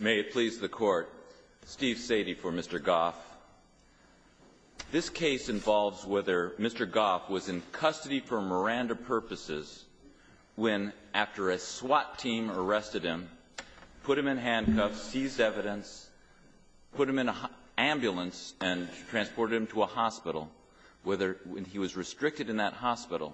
May it please the Court, Steve Sadie for Mr. Goff. This case involves whether Mr. Goff was in custody for Miranda purposes when, after a SWAT team arrested him, put him in handcuffs, seized evidence, put him in an ambulance, and transported him to a hospital, whether he was restricted in that hospital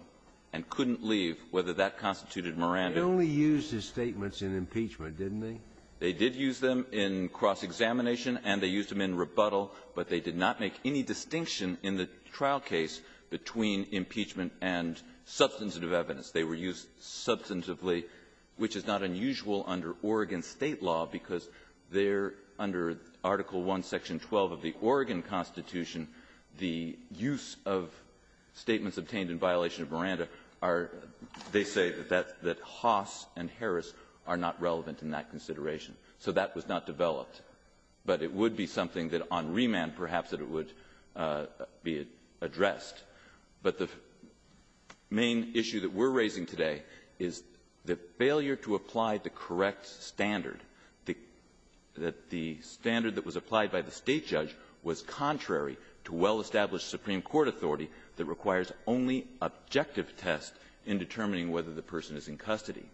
and couldn't leave, whether that constituted Miranda. They had only used his statements in impeachment, didn't they? They did use them in cross-examination, and they used them in rebuttal, but they did not make any distinction in the trial case between impeachment and substantive evidence. They were used substantively, which is not unusual under Oregon State law, because there, under Article I, Section 12 of the Oregon Constitution, the use of statements obtained in violation of Miranda are, they say, that that Haas and Harris are not relevant in that consideration. So that was not developed. But it would be something that on remand, perhaps, that it would be addressed. But the main issue that we're raising today is the failure to apply the correct standard, that the standard that was applied by the State judge was contrary to well-established Supreme Court authority that requires only objective tests in determining whether the person is in custody.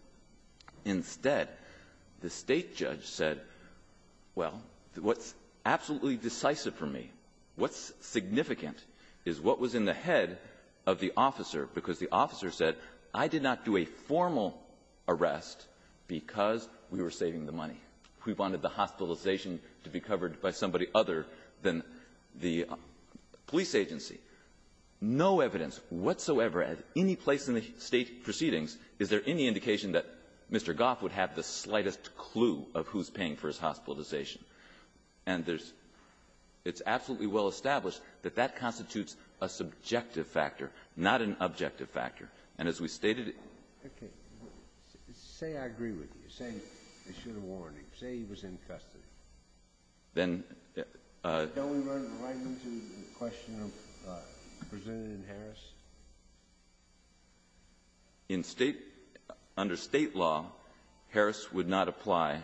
Instead, the State judge said, well, what's absolutely decisive for me, what's significant, is what was in the head of the officer, because the officer said, I did not do a formal arrest because we were saving the money. We wanted the hospitalization to be covered by somebody other than the police agency. No evidence whatsoever at any place in the State proceedings is there any indication that Mr. Goff would have the slightest clue of who's paying for his hospitalization. And there's – it's absolutely well established that that constitutes a subjective factor, not an objective factor. And as we stated at the beginning of the hearing, the State judge said, well, I don't know. Kennedy, I think, presented it in Harris. In State – under State law, Harris would not apply,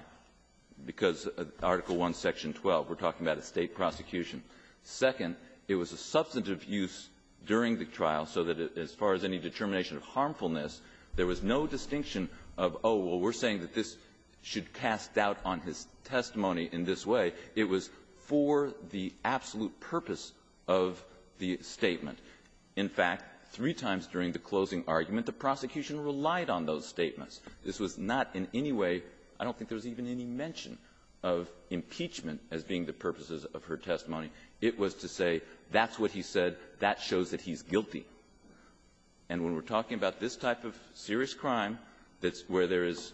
because Article I, Section 12, we're talking about a State prosecution. Second, it was a substantive use during the trial, so that as far as any determination of harmfulness, there was no distinction of, oh, well, we're saying that this should be cast out on his testimony in this way. It was for the absolute purpose of the statement. In fact, three times during the closing argument, the prosecution relied on those statements. This was not in any way – I don't think there was even any mention of impeachment as being the purposes of her testimony. It was to say, that's what he said. That shows that he's guilty. And when we're talking about this type of serious crime, that's where there is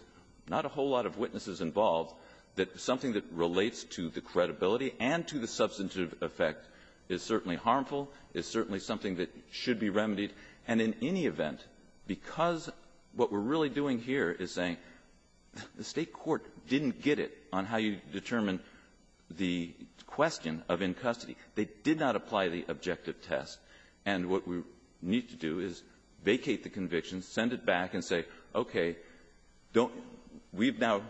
not a whole lot of witnesses involved, that something that relates to the credibility and to the substantive effect is certainly harmful, is certainly something that should be remedied. And in any event, because what we're really doing here is saying the State court didn't get it on how you determine the question of in custody. They did not apply the objective test. And what we need to do is vacate the conviction, send it back, and say, okay, don't – we've now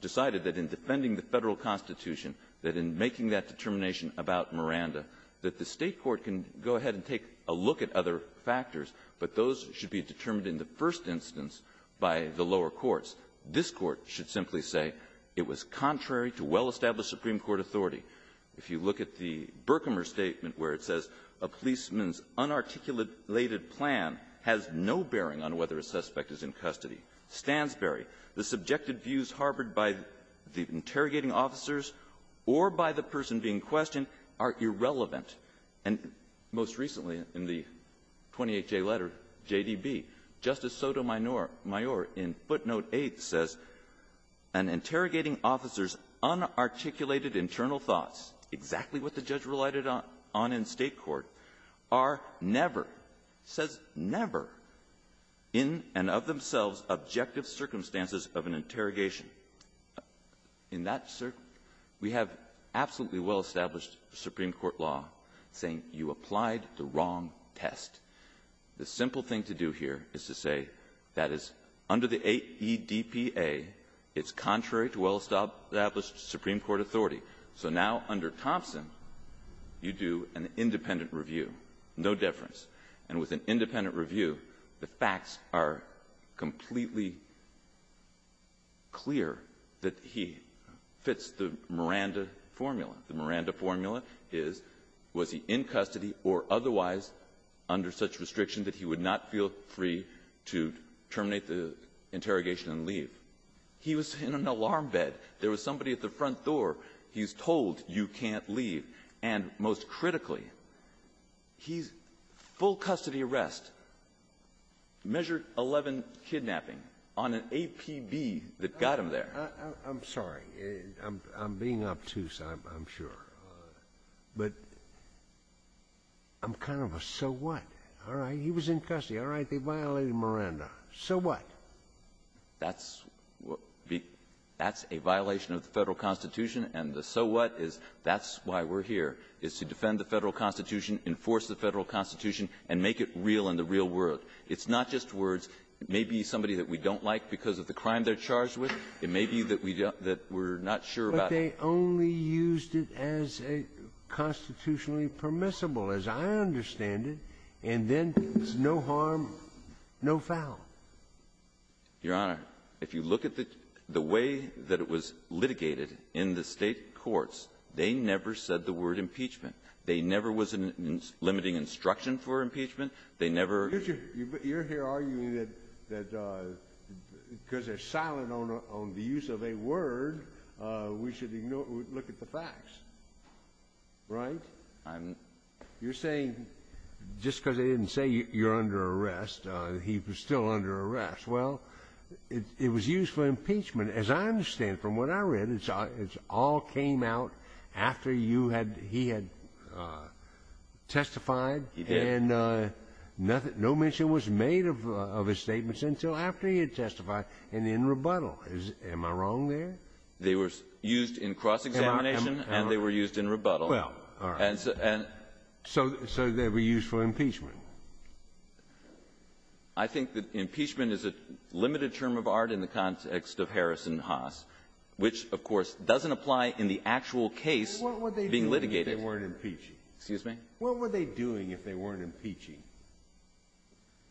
decided that in defending the Federal Constitution, that in making that determination about Miranda, that the State court can go ahead and take a look at other factors, but those should be determined in the first instance by the lower courts. This Court should simply say it was contrary to well-established Supreme Court authority. If you look at the Berkemer statement where it says a policeman's unarticulated plan has no bearing on whether a suspect is in custody, Stansbury, the subjected views harbored by the interrogating officers or by the person being questioned are irrelevant. And most recently in the 28J letter, JDB, Justice Sotomayor in footnote 8 says, an interrogating officer's unarticulated internal thoughts, exactly what the judge related on in State court, are never, says never, in and of themselves objective circumstances of an interrogation. In that – we have absolutely well-established Supreme Court law saying you applied the wrong test. The simple thing to do here is to say, that is, under the 8 E.D.P.A., it's contrary to well-established Supreme Court authority. So now, under Thompson, you do an independent review. No difference. And with an independent review, the facts are completely clear that he fits the Miranda formula. The Miranda formula is, was he in custody or otherwise under such restriction that he would not feel free to terminate the interrogation and leave. He was in an alarm bed. There was somebody at the front door. He's told, you can't leave. And most critically, he's full custody arrest, measure 11 kidnapping, on an APB that got him there. I'm sorry. I'm being obtuse, I'm sure. But I'm kind of a, so what? All right. He was in custody. All right. They violated Miranda. So what? That's a violation of the Federal Constitution. And the so what is, that's why we're here, is to defend the Federal Constitution, enforce the Federal Constitution, and make it real in the real world. It's not just words. It may be somebody that we don't like because of the crime they're charged with. It may be that we're not sure about it. Scalia. But they only used it as a constitutionally permissible, as I understand it, and then there's no harm, no foul. Your Honor, if you look at the way that it was litigated in the State courts, they never said the word impeachment. They never was limiting instruction for impeachment. They never You're here arguing that because they're silent on the use of a word, we should ignore, look at the facts. Right? I'm You're saying just because they didn't say you're under arrest, he was still under arrest. Well, it was used for impeachment, as I understand from what I read. It's all came out after you had he had testified and nothing. No mention was made of his statements until after he had testified and in rebuttal. Am I wrong there? They were used in cross-examination and they were used in rebuttal. Well, all right. And so So they were used for impeachment. I think that impeachment is a limited term of art in the context of Harris and Haas, which, of course, doesn't apply in the actual case being litigated. What were they doing if they weren't impeaching? Excuse me? What were they doing if they weren't impeaching?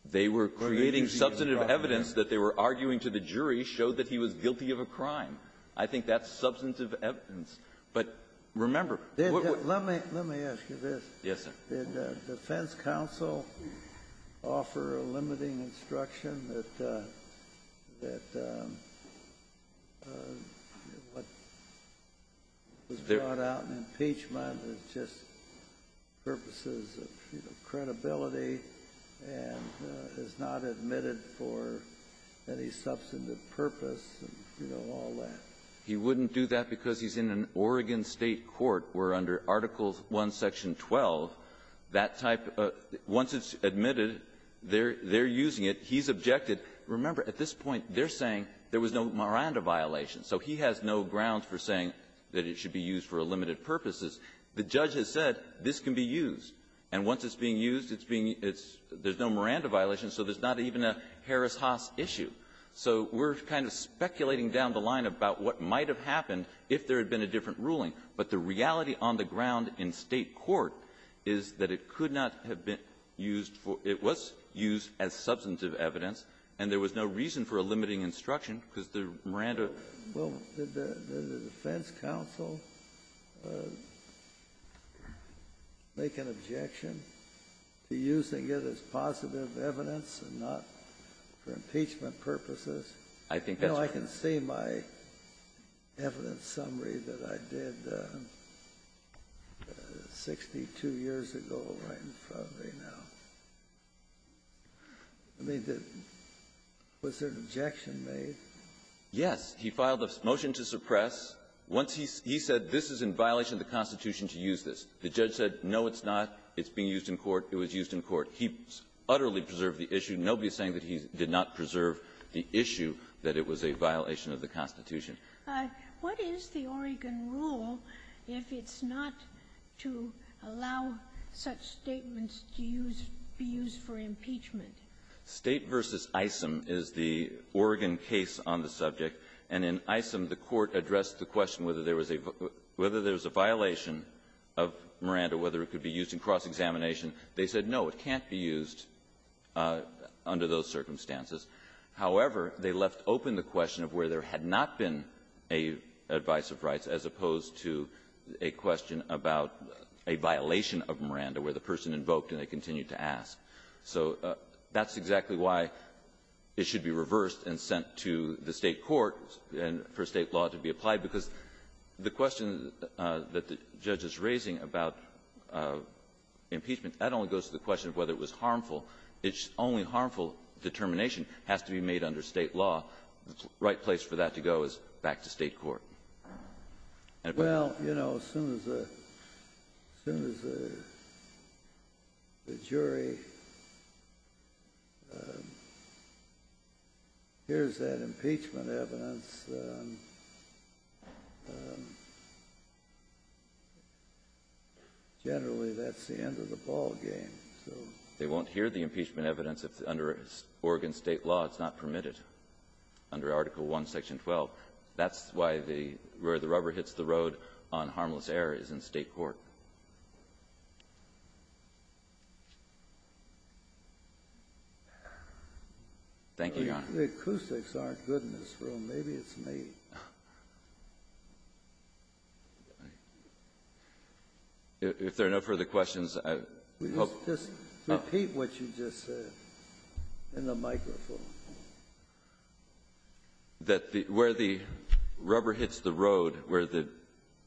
They were creating substantive evidence that they were arguing to the jury showed that he was guilty of a crime. I think that's substantive evidence. But remember, what would Let me let me ask you this. Yes, sir. Did the defense counsel offer a limiting instruction that what was brought out in impeachment is just purposes of, you know, credibility and is not admitted for any substantive purpose and, you know, all that? He wouldn't do that because he's in an Oregon State court where, under Article 1, Section 12, that type of — once it's admitted, they're using it. He's objected. Remember, at this point, they're saying there was no Miranda violation. So he has no ground for saying that it should be used for limited purposes. The judge has said this can be used. And once it's being used, it's being — there's no Miranda violation, so there's not even a Harris-Haas issue. So we're kind of speculating down the line about what might have happened if there had been a different ruling. But the reality on the ground in State court is that it could not have been used for — it was used as substantive evidence, and there was no reason for a limiting instruction because the Miranda — Well, did the defense counsel make an objection to using it as positive evidence and not for impeachment purposes? I think that's what — No, I can see my evidence summary that I did 62 years ago right in front of me now. I mean, did — was there an objection made? Yes. He filed a motion to suppress. Once he — he said this is in violation of the Constitution to use this. The judge said, no, it's not. It's being used in court. It was used in court. He utterly preserved the issue. Nobody is saying that he did not preserve the issue, that it was a violation of the Constitution. What is the Oregon rule if it's not to allow such statements to use — be used for impeachment? State v. Isom is the Oregon case on the subject. And in Isom, the Court addressed the question whether there was a — whether there was a violation of Miranda, whether it could be used in cross-examination. They said, no, it can't be used under those circumstances. However, they left open the question of where there had not been a advice of rights as opposed to a question about a violation of Miranda, where the person invoked and they continued to ask. So that's exactly why it should be reversed and sent to the State court and for State law to be applied, because the question that the judge is raising about impeachment — that only goes to the question of whether it was harmful. It's only harmful determination has to be made under State law. The right place for that to go is back to State court. And it was — Well, you know, as soon as the — as soon as the jury hears that impeachment evidence, generally, that's the end of the ballgame. So — They won't hear the impeachment evidence if, under Oregon State law, it's not permitted under Article I, Section 12. That's why the — where the rubber hits the road on harmless error is in State court. Thank you, Your Honor. The acoustics aren't good in this room. Maybe it's me. If there are no further questions, I hope — Just repeat what you just said in the microphone. That the — where the rubber hits the road, where the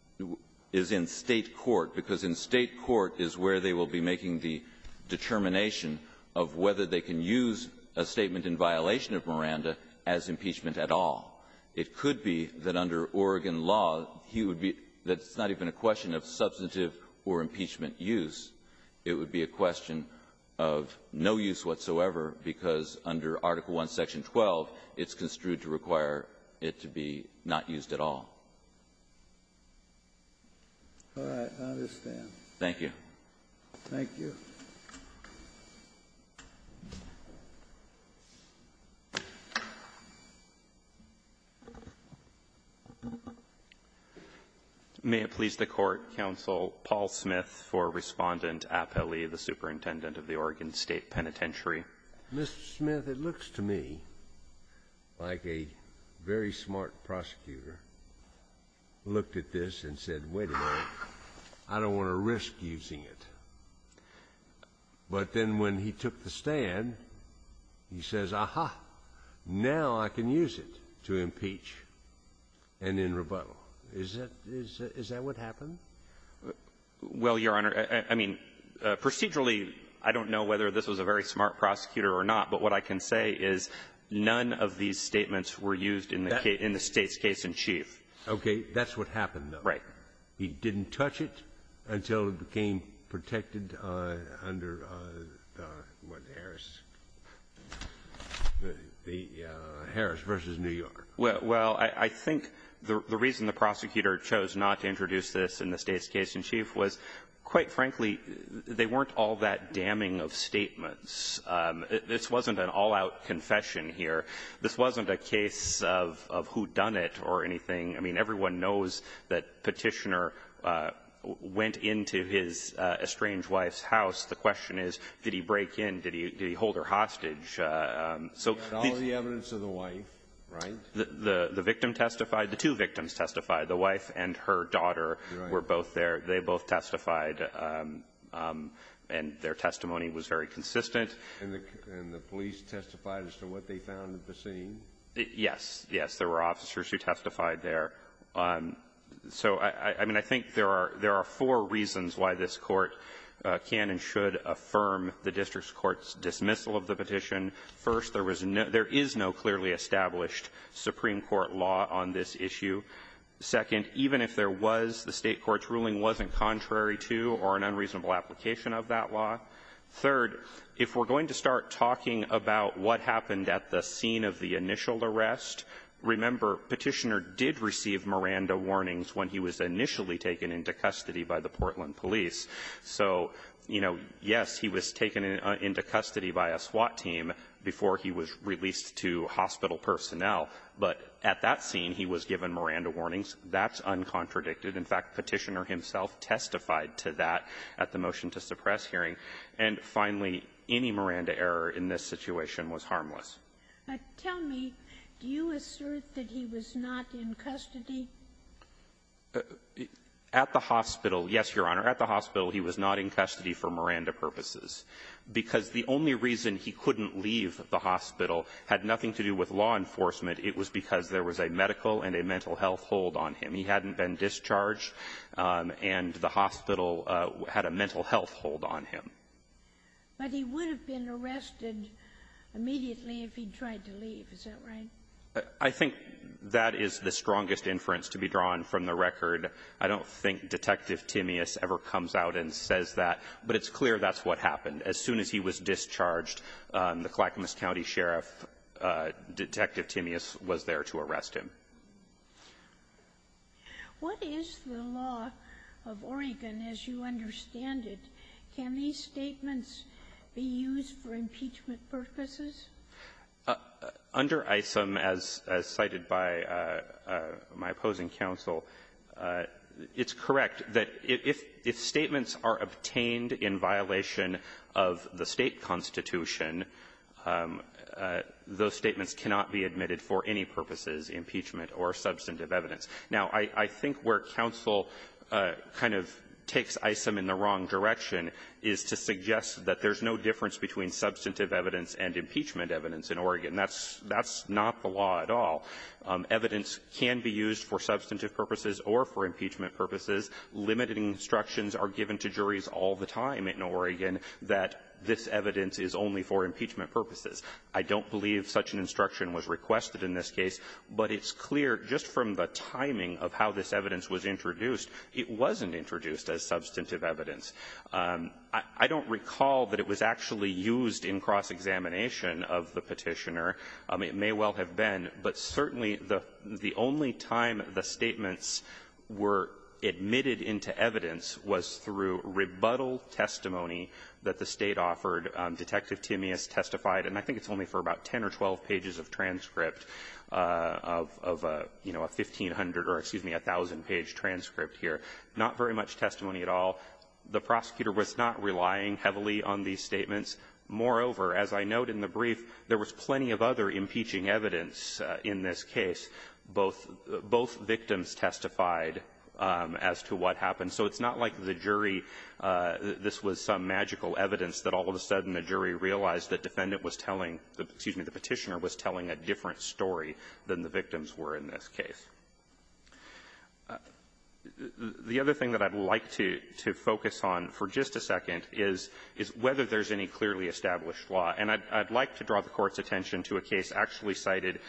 — is in State court, because in State court is where they will be making the determination of whether they can use a statement in violation of Miranda as impeachment at all. It could be that under Oregon law, he would be — that it's not even a question of substantive or impeachment use. It would be a question of no use whatsoever, because under Article I, Section 12, it's construed to require it to be not used at all. All right. I understand. Thank you. Thank you. May it please the Court, Counsel, Paul Smith for Respondent Appellee, the Superintendent of the Oregon State Penitentiary. Mr. Smith, it looks to me like a very smart prosecutor looked at this and said, wait a minute, I don't want to risk using it. But then when he took the stand, he says, aha, now I can use it to impeach and end rebuttal. Is that — is that what happened? Well, Your Honor, I mean, procedurally, I don't know whether this was a very smart prosecutor or not, but what I can say is none of these statements were used in the State's case in chief. Okay. That's what happened, though. Right. He didn't touch it until it became protected under, what, Harris, the Harris v. New York. Well, I think the reason the prosecutor chose not to introduce this in the State's case in chief was, quite frankly, they weren't all that damning of statements. This wasn't an all-out confession here. This wasn't a case of whodunit or anything. I mean, everyone knows that Petitioner went into his estranged wife's house. The question is, did he break in? Did he hold her hostage? So the — He had all the evidence of the wife, right? The victim testified. The two victims testified. The wife and her daughter were both there. They both testified, and their testimony was very consistent. And the police testified as to what they found at the scene? Yes. Yes. There were officers who testified there. So, I mean, I think there are four reasons why this Court can and should affirm the district court's dismissal of the petition. First, there is no clearly established Supreme Court law on this issue. Second, even if there was, the State court's ruling wasn't contrary to or an unreasonable application of that law. Third, if we're going to start talking about what happened at the scene of the initial arrest, remember, Petitioner did receive Miranda warnings when he was initially taken into custody by the Portland police. So, you know, yes, he was taken into custody by a SWAT team before he was released to hospital personnel, but at that scene, he was given Miranda warnings. That's uncontradicted. In fact, Petitioner himself testified to that at the motion-to-suppress hearing. And finally, any Miranda error in this situation was harmless. Tell me, do you assert that he was not in custody? At the hospital, yes, Your Honor. At the hospital, he was not in custody for Miranda purposes, because the only reason he couldn't leave the hospital had nothing to do with law enforcement. It was because there was a medical and a mental health hold on him. He hadn't been discharged, and the hospital had a mental health hold on him. But he would have been arrested immediately if he'd tried to leave. Is that right? I think that is the strongest inference to be drawn from the record. I don't think Detective Timmius ever comes out and says that, but it's clear that's what happened. As soon as he was discharged, the Clackamas County Sheriff, Detective Timmius, was there to arrest him. What is the law of Oregon, as you understand it? Can these statements be used for impeachment purposes? Under ISM, as cited by my opposing counsel, it's correct that if statements are obtained in violation of the State constitution, those statements cannot be admitted for any purposes, impeachment or substantive evidence. Now, I think where counsel kind of takes ISM in the wrong direction is to suggest that there's no difference between substantive evidence and impeachment evidence in Oregon. That's not the law at all. Evidence can be used for substantive purposes or for impeachment purposes. Limited instructions are given to juries all the time in Oregon that this evidence is only for impeachment purposes. I don't believe such an instruction was requested in this case, but it's clear just from the timing of how this evidence was introduced, it wasn't introduced as substantive evidence. I don't recall that it was actually used in cross-examination of the Petitioner. It may well have been, but certainly the only time the statements were admitted into evidence was through rebuttal testimony that the State offered. Detective Timmius testified, and I think it's only for about 10 or 12 pages of transcript of a, you know, a 1,500 or, excuse me, a 1,000-page transcript here. Not very much testimony at all. The prosecutor was not relying heavily on these statements. Moreover, as I note in the brief, there was plenty of other impeaching evidence in this case. Both victims testified as to what happened. So it's not like the jury this was some magical evidence that all of a sudden the jury realized that defendant was telling the, excuse me, the Petitioner was telling a different story than the victims were in this case. The other thing that I'd like to focus on for just a second is whether there's any clearly established law. And I'd like to draw the Court's attention to a case actually cited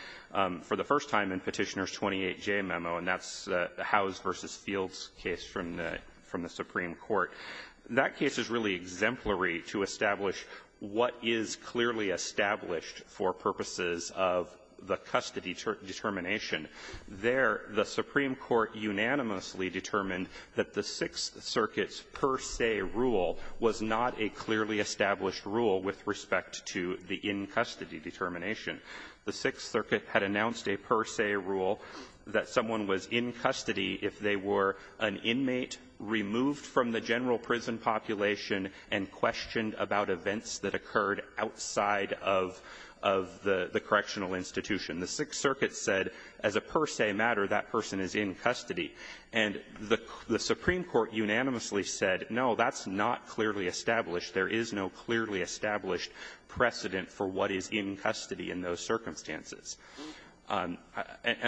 for the first time in Petitioner's 28J memo, and that's the Howes v. Fields case from the Supreme Court. That case is really exemplary to establish what is clearly established for purposes of the custody determination. There, the Supreme Court unanimously determined that the Sixth Circuit's per se rule was not a clearly established rule with respect to the in-custody determination. The Sixth Circuit had announced a per se rule that someone was in custody if they were an inmate removed from the general prison population and questioned about events that occurred outside of the correctional institution. The Sixth Circuit said, as a per se matter, that person is in custody. And the Supreme Court unanimously said, no, that's not clearly established. There is no clearly established precedent for what is in custody in those circumstances. And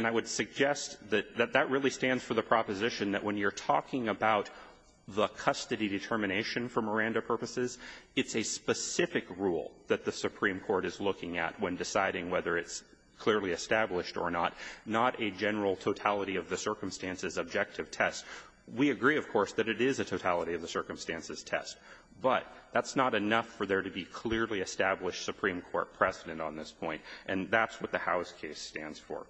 I would suggest that that really stands for the proposition that when you're talking about the custody determination for Miranda purposes, it's a specific rule that the Supreme Court is looking at when deciding whether it's clearly established or not, not a general totality of the circumstances objective test. We agree, of course, that it is a totality of the circumstances test, but that's not enough for there to be clearly established Supreme Court precedent on this point. And that's what the Howe's case stands for.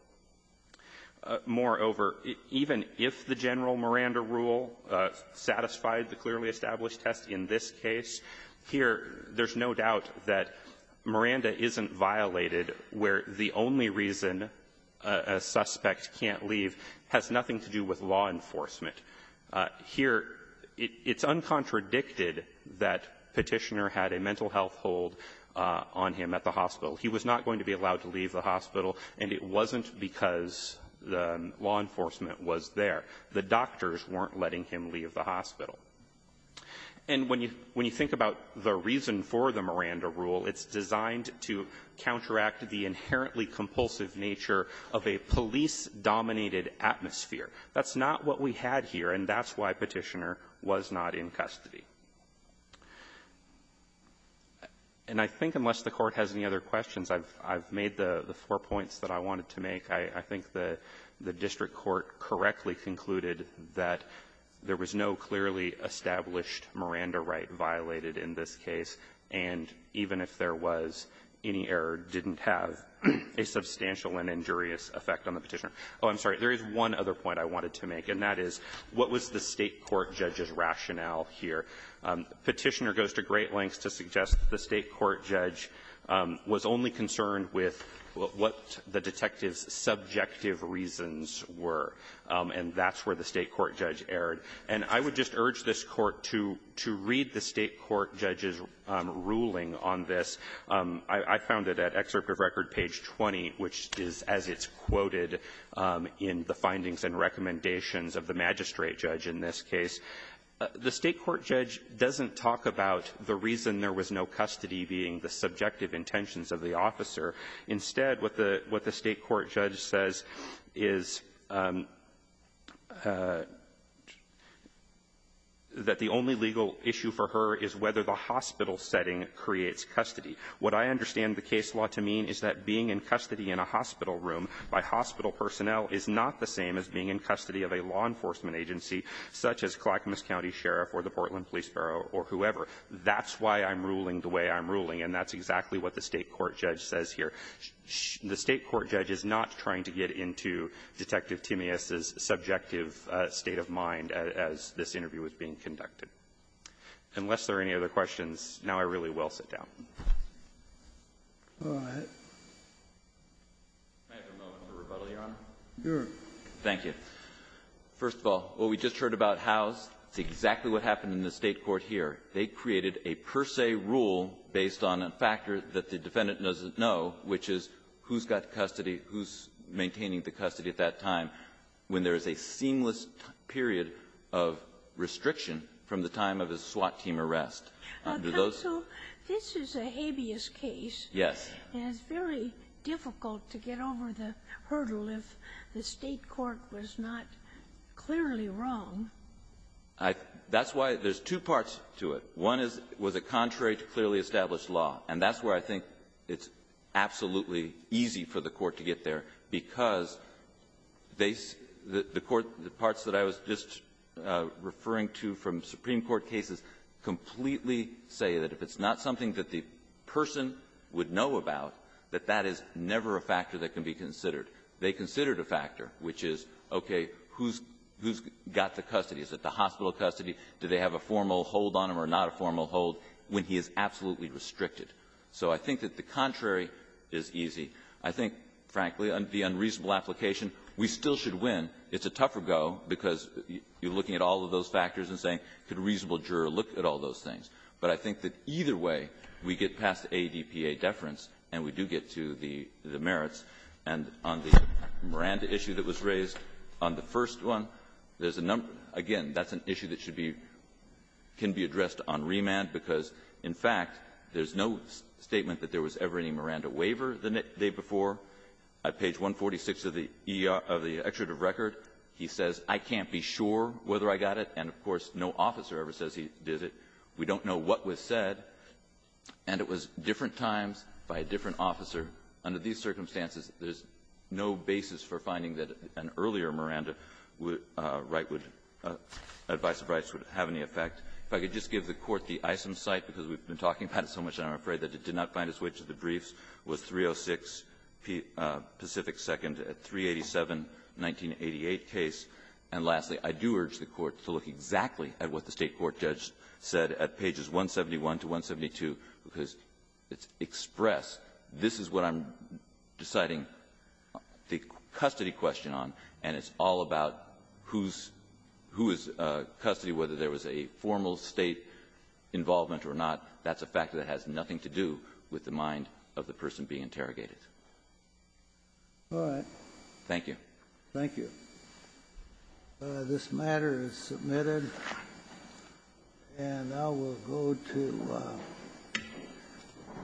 Moreover, even if the general Miranda rule satisfied the clearly established test in this case, here, there's no doubt that Miranda isn't violated where the only reason a suspect can't leave has nothing to do with law enforcement. Here, it's uncontradicted that Petitioner had a mental health hold on him at the hospital. He was not going to be allowed to leave the hospital, and it wasn't because the law enforcement was there. The doctors weren't letting him leave the hospital. And when you think about the reason for the Miranda rule, it's designed to counteract the inherently compulsive nature of a police-dominated atmosphere. That's not what we had here, and that's why Petitioner was not in custody. And I think, unless the I've made the four points that I wanted to make. I think the district court correctly concluded that there was no clearly established Miranda right violated in this case, and even if there was, any error didn't have a substantial and injurious effect on the Petitioner. Oh, I'm sorry. There is one other point I wanted to make, and that is, what was the State court judge's rationale here? Petitioner goes to great lengths to suggest that the State court judge was only concerned with what the detective's subjective reasons were, and that's where the State court judge erred. And I would just urge this Court to read the State court judge's ruling on this. I found it at Excerpt of Record, page 20, which is as it's quoted in the findings and recommendations of the magistrate judge in this case. The State court judge doesn't talk about the reason there was no custody being the subjective intentions of the officer. Instead, what the State court judge says is that the only legal issue for her is whether the hospital setting creates custody. What I understand the case law to mean is that being in custody in a hospital room by hospital personnel is not the same as being in custody of a law enforcement agency, such as Clackamas County Sheriff or the Portland Police Bureau or whoever. That's why I'm ruling the way I'm ruling, and that's exactly what the State court judge says here. The State court judge is not trying to get into Detective Timmius's subjective state of mind as this interview is being conducted. Unless there are any other questions, now I really will sit down. Go ahead. Can I have a moment for rebuttal, Your Honor? Your Honor. Thank you. First of all, what we just heard about Howe's, it's exactly what happened in the State court here. They created a per se rule based on a factor that the defendant doesn't know, which is who's got custody, who's maintaining the custody at that time when there is a seamless period of restriction from the time of a SWAT team arrest. Do those ---- So this is a habeas case. Yes. And it's very difficult to get over the hurdle if the State court was not clearly wrong. I think that's why there's two parts to it. One is, was it contrary to clearly established law? And that's where I think it's absolutely easy for the court to get there, because they see the court, the parts that I was just referring to from Supreme Court cases, completely say that if it's not something that the person would know about, that that is never a factor that can be considered. They considered a factor, which is, okay, who's got the custody? Is it the hospital custody? Do they have a formal hold on him or not a formal hold when he is absolutely restricted? So I think that the contrary is easy. I think, frankly, the unreasonable application, we still should win. It's a tougher go because you're looking at all of those factors and saying, could a reasonable juror look at all those things? But I think that either way, we get past ADPA deference, and we do get to the merits. And on the Miranda issue that was raised, on the first one, there's a number of them. Again, that's an issue that should be ---- can be addressed on remand, because, in fact, there's no statement that there was ever any Miranda waiver the day before. I have page 146 of the ER of the extradit of record. He says, I can't be sure whether I got it. And, of course, no officer ever says he did it. We don't know what was said. And it was different times by a different officer. Under these circumstances, there's no basis for finding that an earlier Miranda right would ---- advice of rights would have any effect. If I could just give the Court the ISM site, because we've been talking about it so much and I'm afraid that it did not find its way to the briefs, was 306 Pacific 2nd at 387, 1988 case. And lastly, I do urge the Court to look exactly at what the State court judge said at pages 171 to 172, because it's expressed, this is what I'm deciding the custody question on, and it's all about who's ---- who is custody, whether there was a formal State involvement or not. That's a fact that has nothing to do with the State court's view, with the mind of the person being interrogated. All right. Thank you. Thank you. This matter is submitted, and I will go to the next witness.